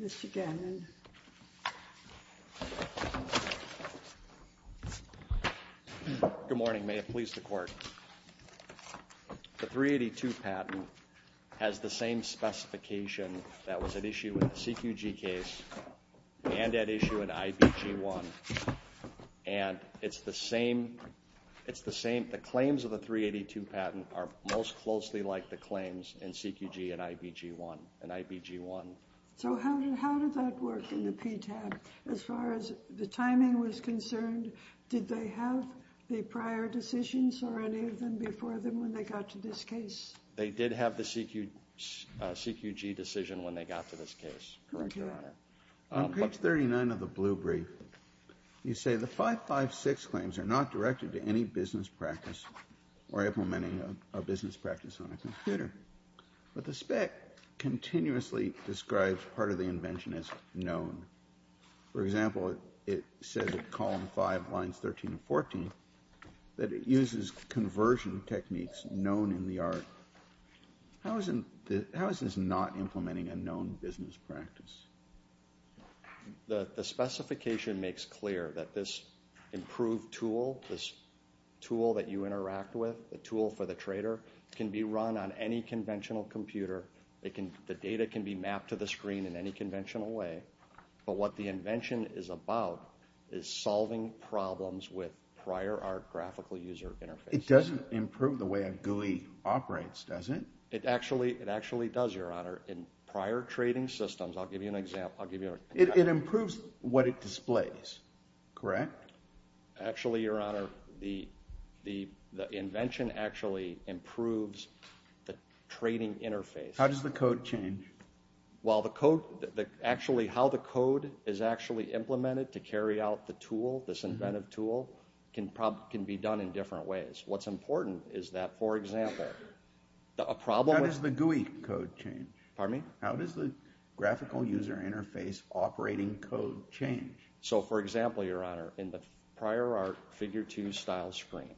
Mr. Gannon. Good morning. May it please the court. The 382 patent has the same specification that was at issue in the CQG case and at issue in IBG 1 and it's the same, it's the same, the claims of the 382 patent are most closely like the claims in CQG and IBG 1 and IBG 1. So how did that work in the PTAB as far as the timing was concerned? Did they have the prior decisions or any of them before them when they got to this case? They did have the CQG decision when they got to this case. On page 39 of the blue brief, you say the 556 claims are not directed to any business practice or implementing a business practice on a computer, but the spec continuously describes part of the invention as known. For example, it says at column 5 lines 13 and 14 that it uses conversion techniques known in the art. How is this not implementing a known business practice? The specification makes clear that this improved tool, this tool that you interact with, the tool for the trader, can be run on any conventional computer. The data can be mapped to the screen in any conventional way, but what the invention is about is solving problems with prior graphical user interfaces. It doesn't improve the way a GUI operates, does it? It actually does, your honor. In prior trading systems, I'll give you an example. It improves what it displays, correct? Actually, your honor, the invention actually improves the trading interface. How does the code change? Actually, how the code is actually implemented to can be done in different ways. What's important is that, for example, a problem... How does the GUI code change? Pardon me? How does the graphical user interface operating code change? So, for example, your honor, in the prior art figure 2 style screen,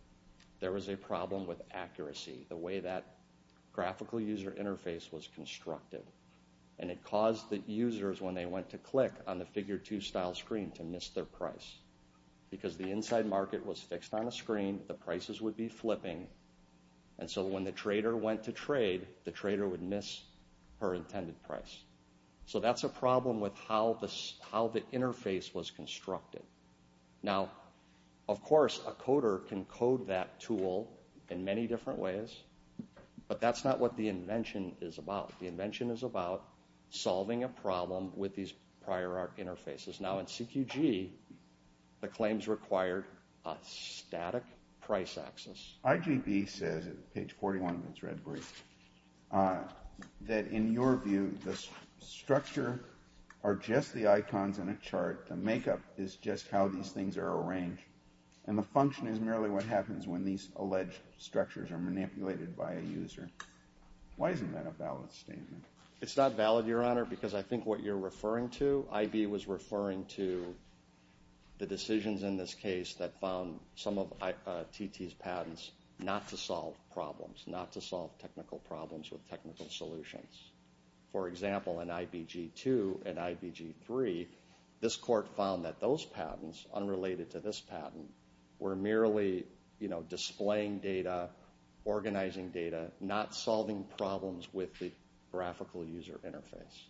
there was a problem with accuracy, the way that graphical user interface was constructed, and it caused the users when they went to click on the figure 2 style screen to miss their price because the inside market was fixed on a screen, the prices would be flipping, and so when the trader went to trade, the trader would miss her intended price. So that's a problem with how the interface was constructed. Now, of course, a coder can code that tool in many different ways, but that's not what the invention is about. The invention is about solving a problem with these prior art interfaces. Now, in CQG, the claims required a static price axis. IGB says, at page 41 of its red brief, that in your view, the structure are just the icons in a chart, the makeup is just how these things are arranged, and the function is merely what happens when these alleged structures are manipulated by a user. Why isn't that a valid statement? It's not valid, your honor, because I think what you're referring to, IB was referring to the decisions in this case that found some of TT's patents not to solve problems, not to solve technical problems with technical solutions. For example, in IBG 2 and IBG 3, this court found that those patents, unrelated to this patent, were merely, you know, displaying data, organizing data, not solving problems with the graphical user interface.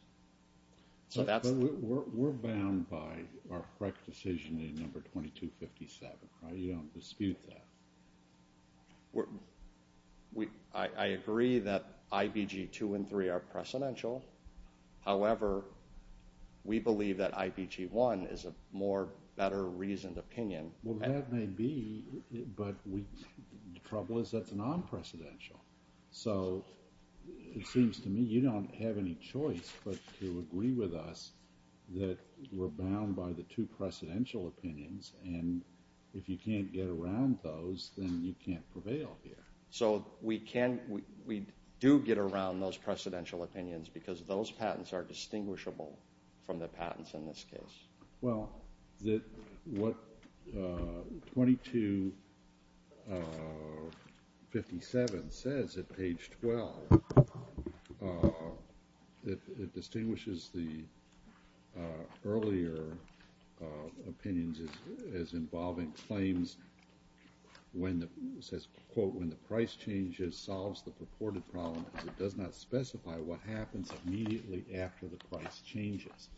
So that's... We're bound by our correct decision in number 2257, right? You don't dispute that. I agree that IBG 2 and 3 are precedential. However, we believe that IBG 1 is a more better reasoned opinion. Well, that may be, but the trouble is that's non-precedential. So it seems to me you don't have any choice but to agree with us that we're bound by the two precedential opinions, and if you can't get around those, then you can't prevail here. So we can, we do get around those precedential opinions because those patents are distinguishable from the page 12. It distinguishes the earlier opinions as involving claims when it says, quote, when the price changes, solves the purported problem, because it does not specify what happens immediately after the price changes.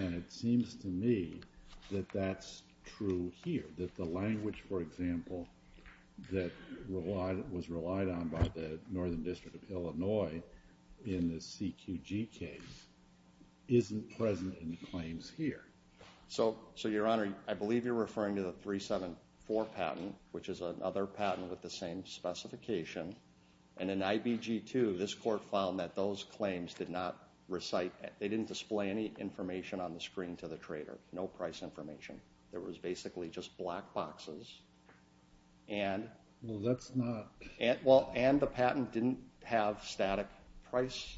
And it seems to me that that's true here, that the language, for example, that was relied on by the Northern District of Illinois in the CQG case isn't present in the claims here. So, Your Honor, I believe you're referring to the 374 patent, which is another patent with the same specification. And in IBG 2, this court found that those claims did not recite, they didn't display any information on the screen to the trader. No price information. There was basically just black boxes, and, well, and the patent didn't have static price,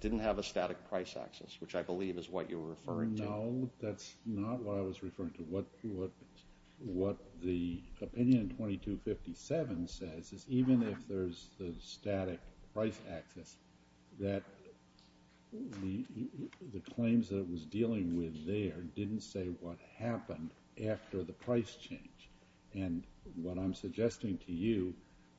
didn't have a static price axis, which I believe is what you're referring to. No, that's not what I was referring to. What what the opinion 2257 says is even if there's the static price axis, that the patent didn't say what happened after the price change. And what I'm suggesting to you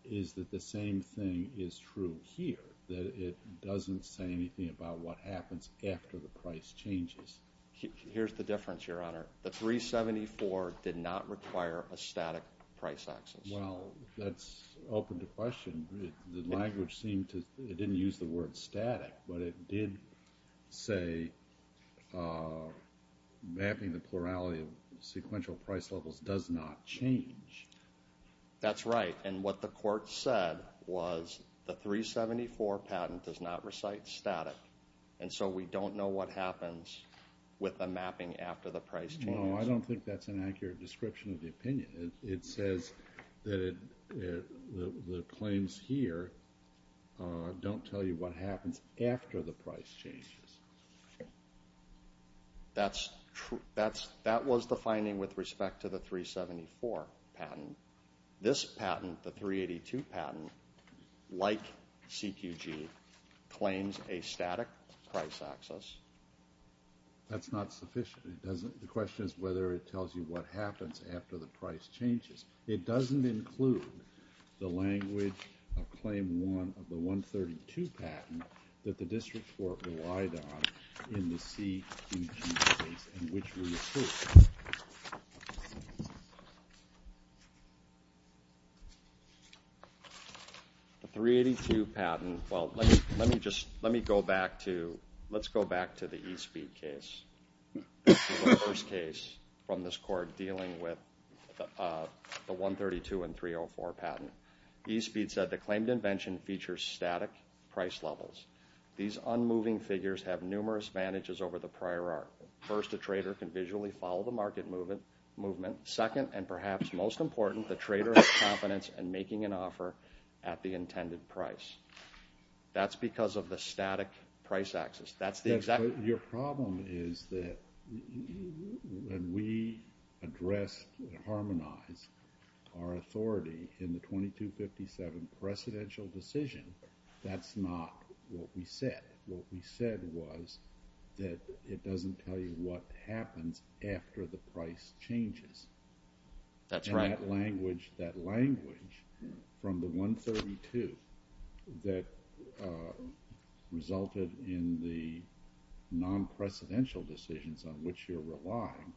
is that the same thing is true here, that it doesn't say anything about what happens after the price changes. Here's the difference, Your Honor. The 374 did not require a static price axis. Well, that's open to question. The language didn't use the word static, but it did say mapping the plurality of sequential price levels does not change. That's right, and what the court said was the 374 patent does not recite static, and so we don't know what happens with the mapping after the price change. Well, I don't think that's an accurate description of the opinion. It says that the claims here don't tell you what happens after the price changes. That's true, that's, that was the finding with respect to the 374 patent. This patent, the 382 patent, like CQG, claims a static price axis. That's not sufficient. It doesn't, the question is whether it tells you what happens after the price changes. It doesn't include the language of Claim 1 of the 132 patent that the district court relied on in the CQG case in which we approved it. The 382 patent, well, let me, let me just, let me go back to, let's go back to the court dealing with the 132 and 304 patent. E-Speed said the claimed invention features static price levels. These unmoving figures have numerous advantages over the prior art. First, a trader can visually follow the market movement, movement. Second, and perhaps most important, the trader has confidence in making an offer at the intended price. That's because of the static price axis. That's the exact, your problem is that when we addressed and harmonized our authority in the 2257 precedential decision, that's not what we said. What we said was that it doesn't tell you what happens after the price changes. That's right. That language, that 132 that resulted in the non-precedential decisions on which you're relying,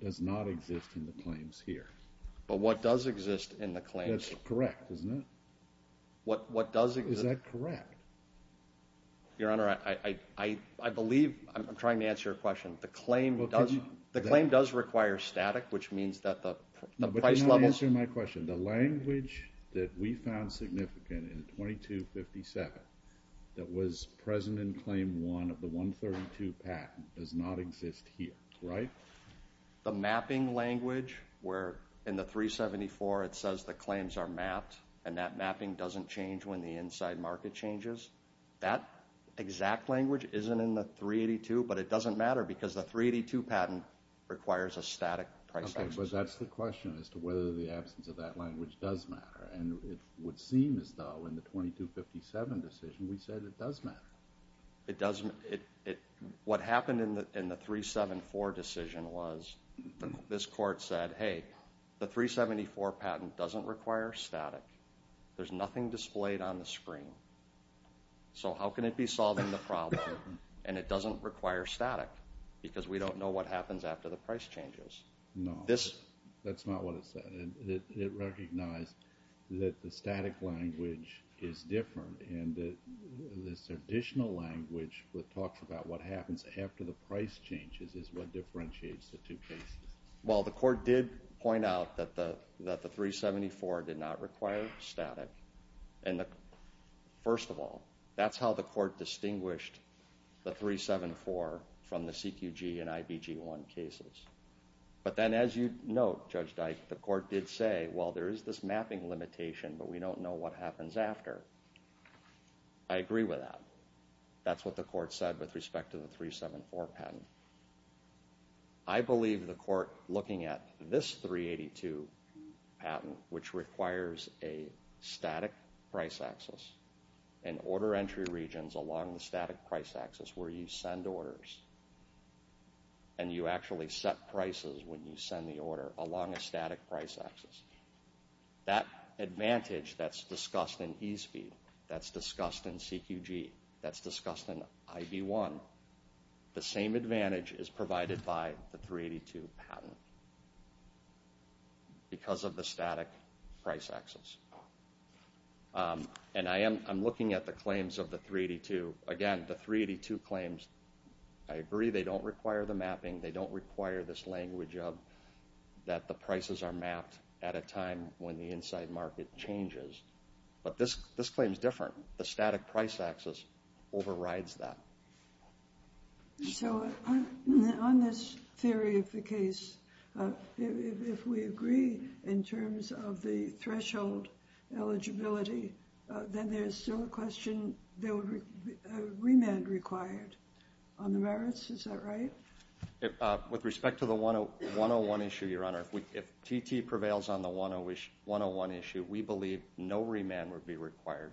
does not exist in the claims here. But what does exist in the claims? That's correct, isn't it? What, what does exist? Is that correct? Your Honor, I, I, I believe, I'm trying to answer your question. The claim does, the claim does require static, which means that the, the price levels. No, but you're not answering my question. The language that we found significant in 2257 that was present in Claim 1 of the 132 patent does not exist here, right? The mapping language, where in the 374 it says the claims are mapped and that mapping doesn't change when the inside market changes, that exact language isn't in the 382, but it doesn't matter because the 382 patent requires a static price action. Okay, but that's the question as to whether the absence of that language does matter. And it would seem as though in the 2257 decision we said it does matter. It doesn't, it, it, what happened in the, in the 374 decision was this court said, hey, the 374 patent doesn't require static. There's nothing displayed on the screen. So how can it be solving the problem and it doesn't require static? Because we don't know what happens after the price changes. No, that's not what it said. It recognized that the static language is different and that this additional language that talks about what happens after the price changes is what differentiates the two cases. Well, the court did point out that the, that the 374 did not require static. And the, first of all, that's how the court distinguished the 374 from the CQG and IBG-1 cases. But then as you note, Judge Dyke, the court did say, well, there is this mapping limitation, but we don't know what happens after. I agree with that. That's what the court said with respect to the 374 patent. I believe the court looking at this 382 patent, which requires a static price axis and order entry regions along the static price axis where you send orders and you actually set prices when you send the order along a static price axis. That advantage that's discussed in eSPEED, that's discussed in CQG, that's discussed in IB-1, the same advantage is provided by the 382 patent because of the static price axis. And I am, I'm looking at the claims of the 382. Again, the 382 claims, I agree they don't require the mapping, they don't require this language of that the prices are mapped at a time when the inside market changes. But this, this claim is different. The static price axis overrides that. So on this theory of the case, if we agree in terms of the threshold eligibility, then there's still a question, there would be a remand required on the merits, is that right? With respect to the 101 issue, Your Honor, if TT prevails on the 101 issue, we believe no remand would be required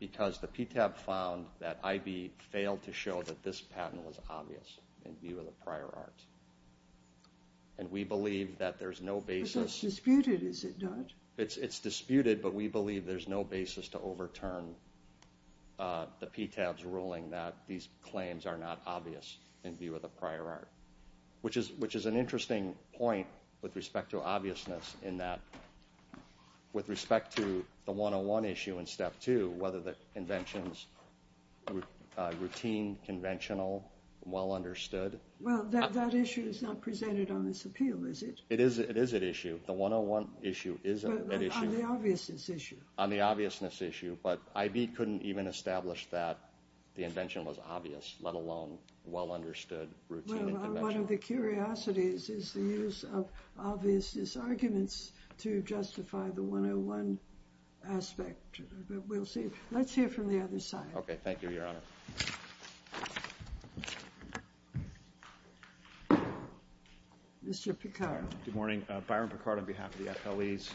because the PTAP found that IB failed to show that this patent was obvious in view of the prior art. And we believe that there's no basis. But that's disputed, is it not? It's disputed, but we believe there's no basis to overturn the PTAP's ruling that these claims are not obvious in view of the prior art. Which is an interesting point with respect to obviousness in that, with respect to the 101 issue in step two, whether the invention's routine, conventional, well understood. Well, that issue is not presented on this appeal, is it? It is an issue. The 101 issue is an issue. But on the obviousness issue. On the obviousness issue, but IB couldn't even establish that the invention was obvious, let alone well understood routine. Well, one of the curiosities is the use of obviousness arguments to justify the 101 aspect. But we'll see. Let's hear from the other side. Okay, thank you, Your Honor. Mr. Picard. Good morning. Byron Picard on behalf of the FLEs.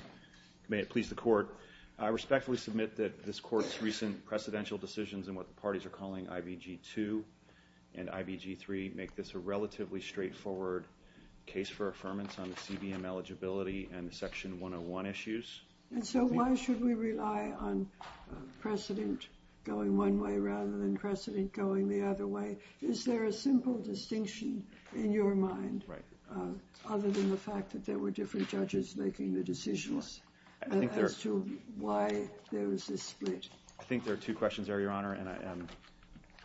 May it please the Court, I respectfully submit that this Court's recent precedential decisions in what the parties are calling IBG 2 and IBG 3 make this a relatively straightforward case for affirmance on the CBM eligibility and the section 101 issues. And so why should we rely on precedent going one way rather than precedent going the other way? Is there a simple distinction in your mind, other than the fact that there were different judges making the decisions as to why there was this split? I think there are two questions there, Your Honor. And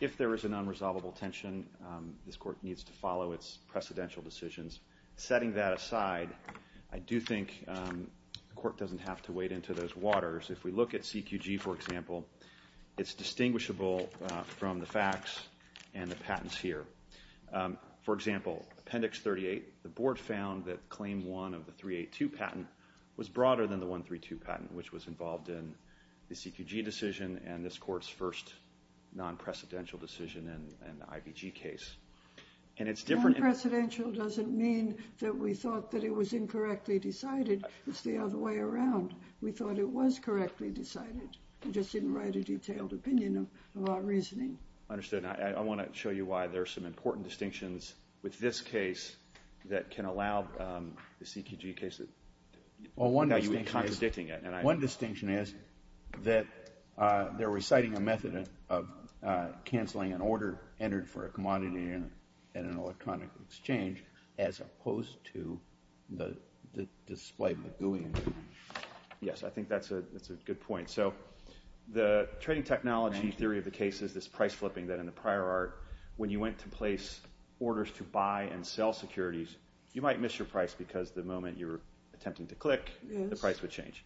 if there is an unresolvable tension, this Court needs to follow its precedential decisions. Setting that aside, I do think the Court doesn't have to wade into those waters. If we look at CQG, for example, it's distinguishable from the facts and the patents here. For example, Appendix 38, the Board found that Claim 1 of the 382 patent was broader than the 132 patent, which was involved in the CQG decision and this Court's first non-precedential decision in the IBG case. Non-precedential doesn't mean that we thought that it was incorrectly decided. It's the other way around. We thought it was correctly decided. We just didn't write a detailed opinion of our reasoning. Understood. I want to show you why there are some important distinctions with this case that can allow the CQG case that you've been contradicting it. One distinction is that they're reciting a method of canceling an order entered for a commodity in an electronic exchange as opposed to the display of the GUI. Yes, I think that's a good point. The trading technology theory of the case is this price flipping that in the prior art, when you went to place orders to buy and sell securities, you might miss your price because the moment you were attempting to click, the price would change.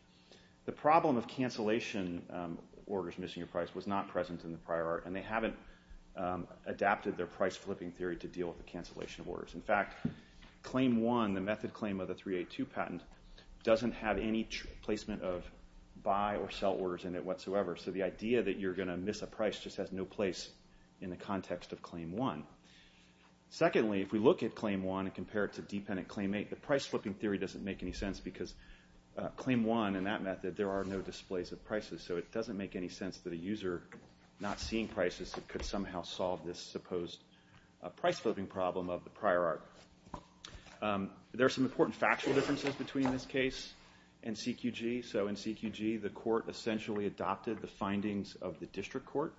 The problem of cancellation orders missing your price was not present in the price flipping theory to deal with the cancellation of orders. In fact, claim one, the method claim of the 382 patent, doesn't have any placement of buy or sell orders in it whatsoever. The idea that you're going to miss a price just has no place in the context of claim one. Secondly, if we look at claim one and compare it to dependent claim eight, the price flipping theory doesn't make any sense because claim one in that method, there are no displays of prices. It doesn't make any sense that a user not seeing prices could somehow solve this supposed price flipping problem of the prior art. There's some important factual differences between this case and CQG. In CQG, the court essentially adopted the findings of the district court.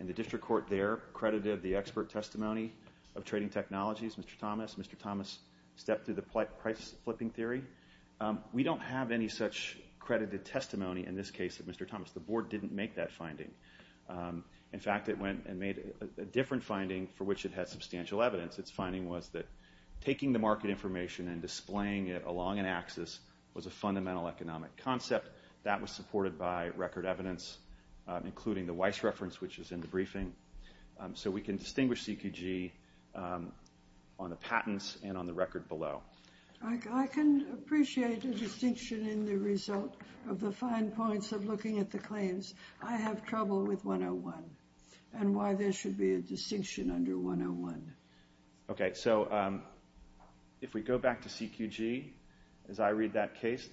The district court there credited the expert testimony of trading technologies, Mr. Thomas. Mr. Thomas stepped through the price flipping theory. We don't have any such credited testimony in this case of Mr. Thomas. The board didn't make that finding. In fact, it went and made a different finding for which it had substantial evidence. Its finding was that taking the market information and displaying it along an axis was a fundamental economic concept. That was supported by record evidence, including the Weiss reference, which is in the briefing. So we can distinguish CQG on the patents and on the record below. I can appreciate the distinction in the result of the fine points of looking at the claims. I have trouble with 101 and why there should be a distinction under 101. Okay, so if we go back to CQG, as I read that case,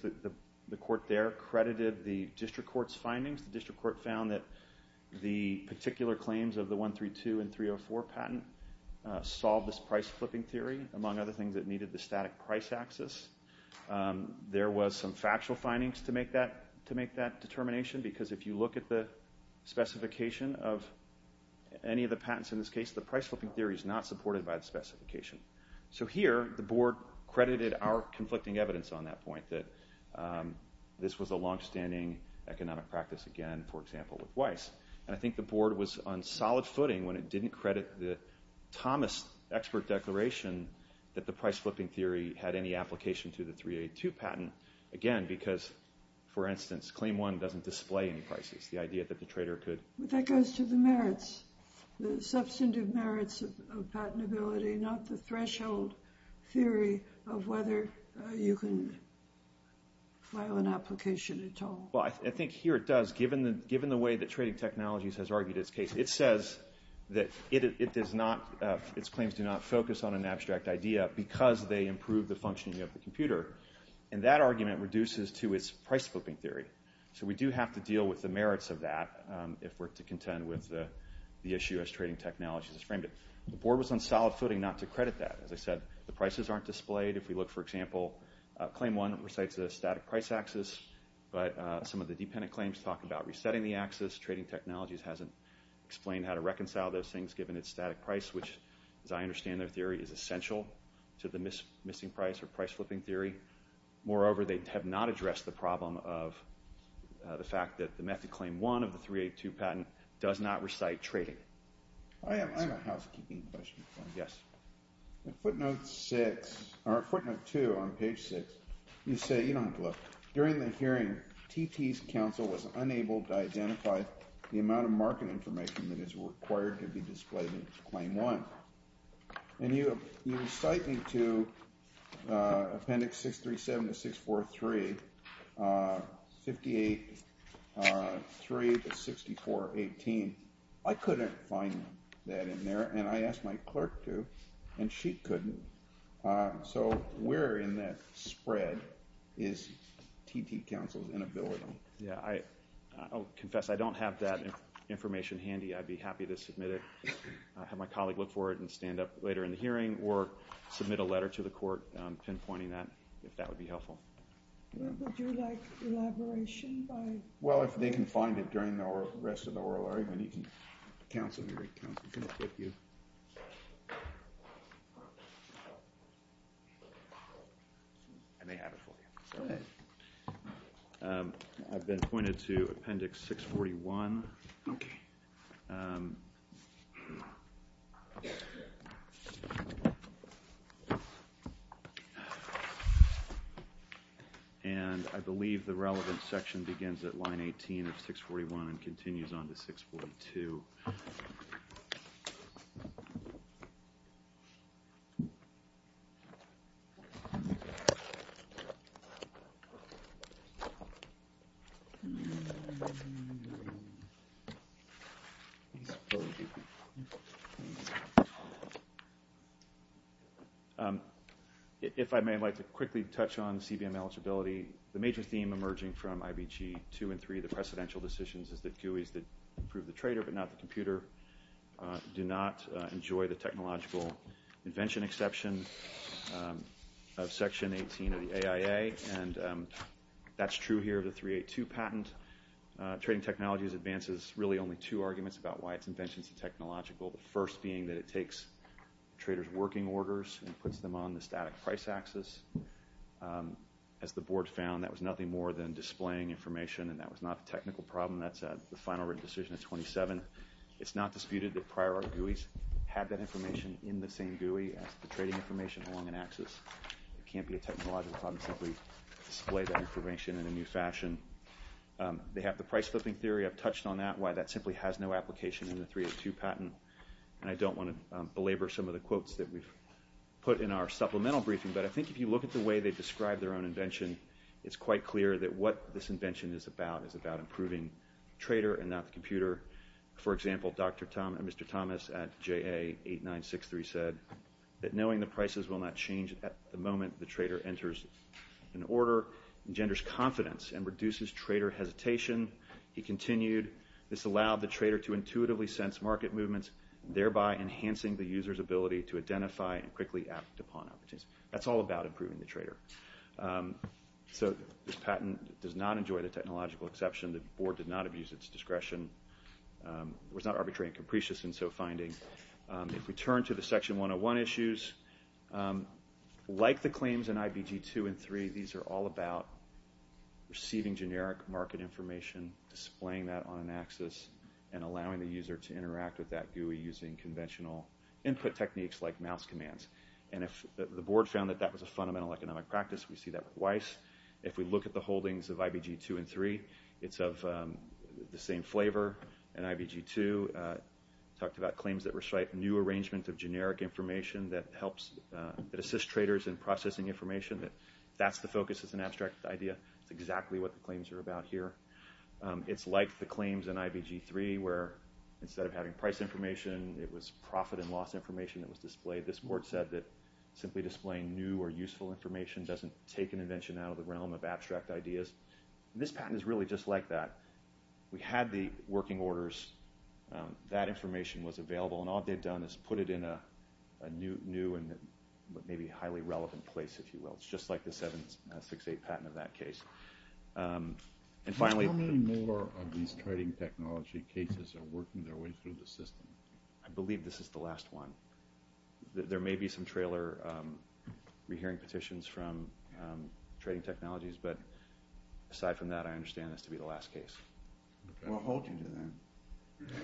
the court there credited the district court's findings. The district court found that the particular claims of the 132 and that price axis, there was some factual findings to make that determination, because if you look at the specification of any of the patents in this case, the price flipping theory is not supported by the specification. So here, the board credited our conflicting evidence on that point, that this was a longstanding economic practice again, for example, with Weiss. And I think the board was on solid footing when it didn't credit the Thomas expert declaration that the price flipping theory had any application to the 382 patent. Again, because, for instance, claim one doesn't display any prices, the idea that the trader could... But that goes to the merits, the substantive merits of patentability, not the threshold theory of whether you can file an application at all. Well, I think here it does, given the way that Trading Technologies has argued its case. It says that it does not, its claims do not focus on an abstract idea because they improve the functioning of the computer. And that argument reduces to its price flipping theory. So we do have to deal with the merits of that if we're to contend with the issue as Trading Technologies has framed it. The board was on solid footing not to credit that. As I said, the prices aren't displayed. If we look, for example, claim one recites the static price axis, but some of the dependent claims talk about resetting the axis. Trading Technologies hasn't explained how to reconcile those things, given its static price, which, as I understand their theory, is essential to the missing price or price flipping theory. Moreover, they have not addressed the problem of the fact that the method claim one of the 382 patent does not recite trading. I have a housekeeping question for you. Yes. In footnote six, or footnote two on page six, you say, you know, look, during the hearing, T.T.'s counsel was unable to identify the amount of market information that is required to be displayed in claim one. And you recite into appendix 637 to 643, 58.3 to 64.18. I couldn't find that in there, and I asked my clerk to, and she couldn't. So where in that bill is it? Yeah, I'll confess I don't have that information handy. I'd be happy to submit it, have my colleague look for it and stand up later in the hearing, or submit a letter to the court pinpointing that, if that would be helpful. Would you like elaboration by? Well, if they can find it during the rest of the oral argument, you can, counsel, you I may have it for you. Go ahead. I've been pointed to appendix 641. Okay. And I believe the relevant section begins at line 18 of 641 and continues on to 642. If I may, I'd like to quickly touch on CBM eligibility. The major theme emerging from the bill is that CBMs and the computer do not enjoy the technological invention exception of section 18 of the AIA, and that's true here of the 382 patent. Trading technologies advances really only two arguments about why its invention is technological, the first being that it takes traders' working orders and puts them on the static price axis. As the board found, that was nothing more than displaying information, and that was not a It's not disputed that prior art GUIs had that information in the same GUI as the trading information along an axis. It can't be a technological problem to simply display that information in a new fashion. They have the price flipping theory. I've touched on that, why that simply has no application in the 382 patent, and I don't want to belabor some of the quotes that we've put in our supplemental briefing, but I think if you look at the way they describe their own invention, it's quite clear that what this invention is about is about improving the trader and not the computer. For example, Mr. Thomas at JA8963 said that knowing the prices will not change at the moment the trader enters an order engenders confidence and reduces trader hesitation. He continued, this allowed the trader to intuitively sense market movements, thereby enhancing the user's ability to identify and quickly act upon opportunities. That's all about improving the trader. So this patent does not enjoy the technological exception. The board did not abuse its discretion. It was not arbitrary and capricious in its finding. If we turn to the Section 101 issues, like the claims in IBG 2 and 3, these are all about receiving generic market information, displaying that on an axis, and allowing the user to interact with that GUI using conventional input techniques like mouse commands. The board found that that was a fundamental economic practice. We see that with Weiss. If we look at the holdings of IBG 2 and 3, it's of the same flavor. In IBG 2, we talked about claims that restrict new arrangements of generic information that assist traders in processing information. That's the focus of an abstract idea. That's exactly what the claims are about here. It's like the claims in IBG 3, where instead of having price information, it was profit and loss information that was displayed. This board said that simply displaying new or useful information doesn't take an invention out of the realm of abstract ideas. This patent is really just like that. We had the working orders. That information was available, and all they've done is put it in a new and maybe highly relevant place, if you will. It's just like the 768 patent of that case. And finally... How many more of these trading technology cases are working their way through the system? I believe this is the last one. There may be some trailer re-hearing petitions from trading technologies, but aside from that, I understand this to be the last case. What holds you to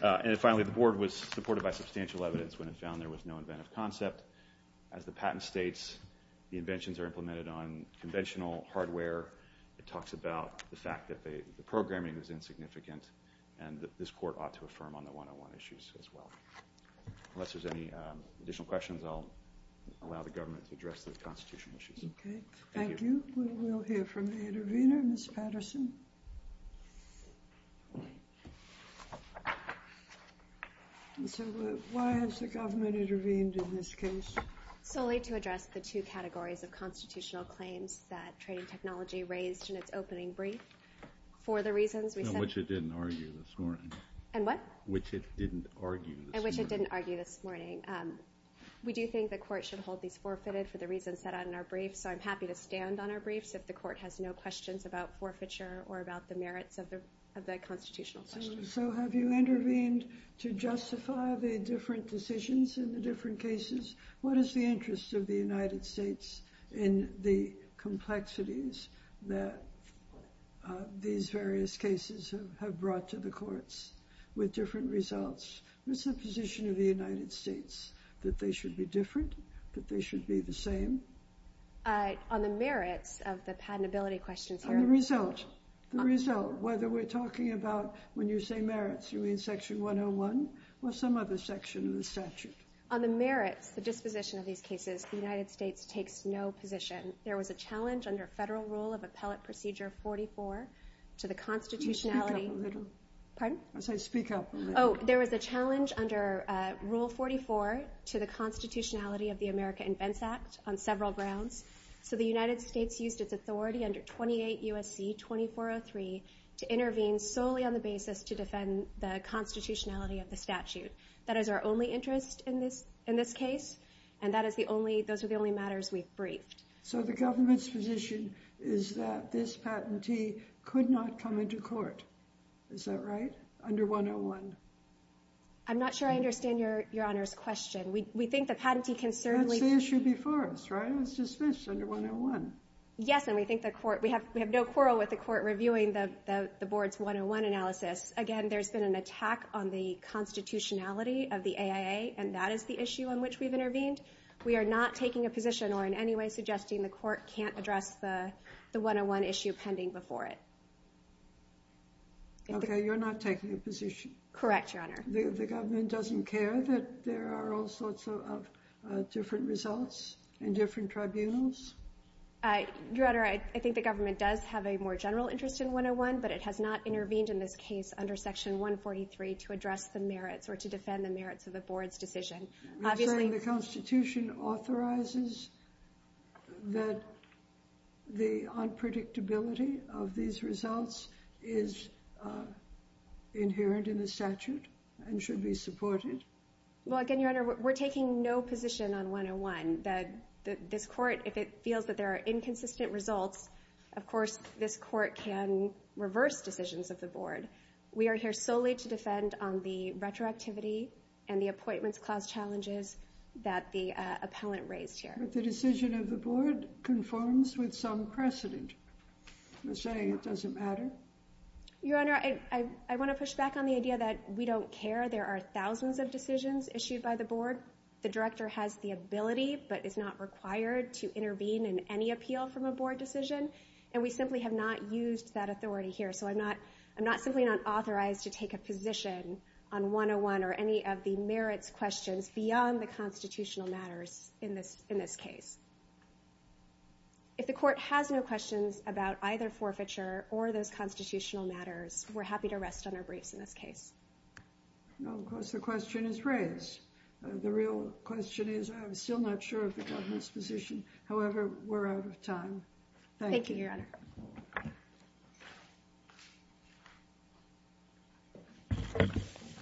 that? And finally, the board was supported by substantial evidence when it found there was no inventive concept. As the patent states, the inventions are implemented on conventional hardware. It talks about the fact that the programming was insignificant, and that this court ought to affirm on the 101 issues as well. Unless there's any additional questions, I'll allow the government to address the constitutional issues. Okay. Thank you. We'll hear from the intervener, Ms. Patterson. Why has the government intervened in this case? Solely to address the two categories of constitutional claims that trading technology raised in its opening brief. For the reasons we said... Which it didn't argue this morning. And what? Which it didn't argue this morning. And which it didn't argue this morning. We do think the court should hold these forfeited for the reasons set out in our brief, so I'm happy to stand on our briefs if the court has no questions about forfeiture or about the merits of the constitutional questions. So have you intervened to justify the different decisions in the different cases? What is the interest of the United States in the complexities that these various cases have brought to the courts with different results? What's the position of the United States? That they should be different? That they should be the same? On the merits of the patentability questions... The result. The result. Whether we're talking about, when you say merits, are we in Section 101 or some other section of the statute? On the merits, the disposition of these cases, the United States takes no position. There was a challenge under Federal Rule of Appellate Procedure 44 to the constitutionality... Can you speak up a little? Pardon? I said speak up a little. Oh, there was a challenge under Rule 44 to the constitutionality of the America Invents Act on several grounds. So the United States used its authority under 28 U.S.C. 2403 to intervene solely on the basis to defend the constitutionality of the statute. That is our only interest in this case, and those are the only matters we've briefed. So the government's position is that this patentee could not come into court. Is that right? Under 101? I'm not sure I understand Your Honor's question. We think the patentee can certainly... That's the issue before us, right? It's dismissed under 101. Yes, and we think the court... We have no quarrel with the court reviewing the board's 101 analysis. Again, there's been an attack on the constitutionality of the AIA, and that is the issue on which we've intervened. We are not taking a position or in any way suggesting the court can't address the 101 issue pending before it. Okay, you're not taking a position. Correct, Your Honor. The government doesn't care that there are all sorts of different results in different tribunals? Your Honor, I think the government does have a more general interest in 101, but it has not intervened in this case under Section 143 to address the merits or to defend the merits of the board's decision. Obviously... You're saying the constitution authorizes that the unpredictability of these results is inherent in the statute and should be supported? Well, again, Your Honor, we're taking no position on 101. This court, if it feels that there are inconsistent results, of course this court can reverse decisions of the board. We are here solely to defend on the retroactivity and the appointments clause challenges that the appellant raised here. But the decision of the board conforms with some precedent. You're saying it doesn't matter? Your Honor, I want to push back on the idea that we don't care. There are thousands of decisions issued by the board. The director has the ability but is not required to intervene in any appeal from a board decision. And we simply have not used that authority here. So I'm not simply not authorized to take a position on 101 or any of the merits questions beyond the constitutional matters in this case. If the court has no questions about either forfeiture or those constitutional matters, we're happy to rest on our briefs in this case. Well, of course the question is raised. The real question is, I'm still not sure of the government's position. However, we're out of time. Thank you. Thank you, Your Honor.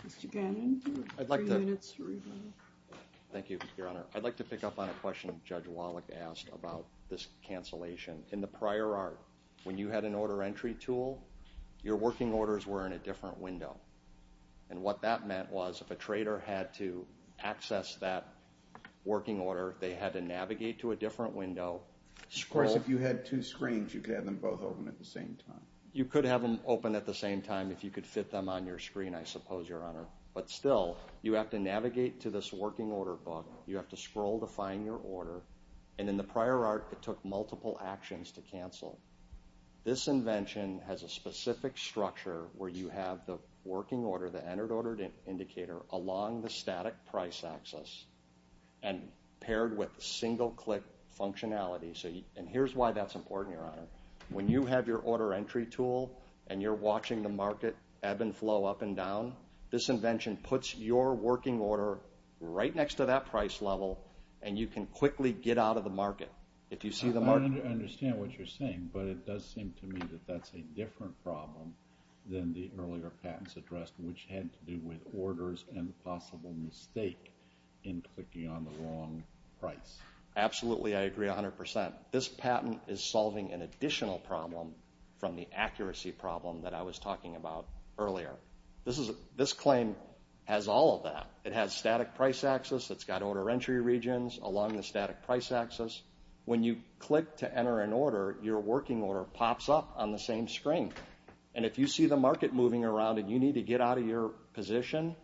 Mr. Gannon, you have three minutes to remain. Thank you, Your Honor. I'd like to pick up on a question Judge Wallach asked about this cancellation. In the prior art, when you had an order entry tool, your working orders were in a different window. And what that meant was, if a trader had to access that working order, they had to navigate to a different window. Of course, if you had two screens, you could have them both open at the same time. You could have them open at the same time if you could fit them on your screen, I suppose, Your Honor. But still, you have to navigate to this working order book. You have to scroll to find your order. And in the prior art, it took multiple actions to cancel. This invention has a specific structure where you have the working order, the entered order indicator, along the static price axis, and paired with single-click functionality. And here's why that's important, Your Honor. When you have your order entry tool, and you're watching the market ebb and flow up and down, this invention puts your working order right next to that price level, and you can quickly get out of the market. I understand what you're saying, but it does seem to me that that's a different problem than the earlier patents addressed, which had to do with orders and a possible mistake in clicking on the wrong price. Absolutely, I agree 100%. This patent is solving an additional problem from the accuracy problem that I was talking about earlier. This claim has all of that. It has static price axis, it's got order entry regions along the static price axis. When you click to enter an order, your working order pops up on the same screen. And if you see the market moving around and you need to get out of your position,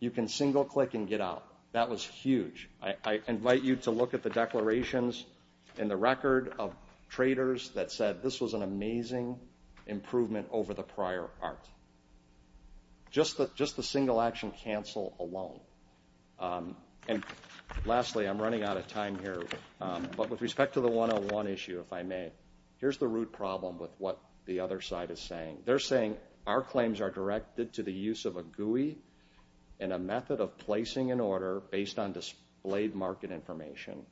you can single-click and get out. That was huge. I invite you to look at the declarations in the record of traders that said this was an amazing improvement over the prior art. Just the single-action cancel alone. Lastly, I'm running out of time here, but with respect to the 101 issue, if I may, here's the root problem with what the other side is saying. They're saying our claims are directed to the use of a GUI and a method of placing an order based on displayed market information,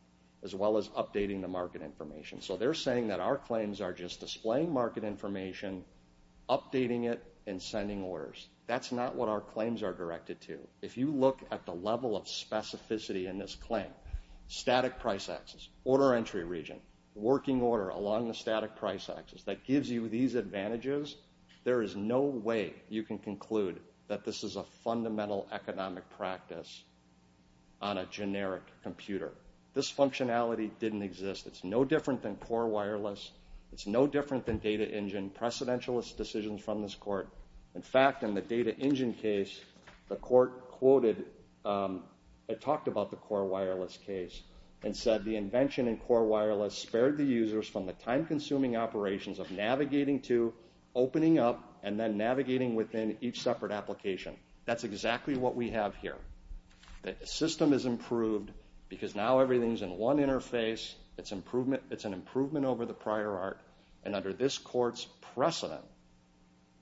as well as updating the market information. So they're saying that our claims are just displaying market information, updating it, and sending orders. That's not what our claims are directed to. If you look at the level of specificity in this claim, static price axis, order entry region, working order along the static price axis that gives you these advantages, there is no way you can conclude that this is a fundamental economic practice on a generic computer. This functionality didn't exist. It's no different than core wireless. It's no different than data engine, precedentialist decisions from this application case. The court quoted, it talked about the core wireless case and said the invention in core wireless spared the users from the time-consuming operations of navigating to, opening up, and then navigating within each separate application. That's exactly what we have here. The system is improved because now everything's in one interface. It's an improvement over the prior art, and under this court's precedent,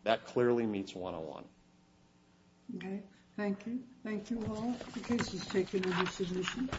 that clearly meets 101. Okay. Thank you. Thank you all. The case is taken into submission.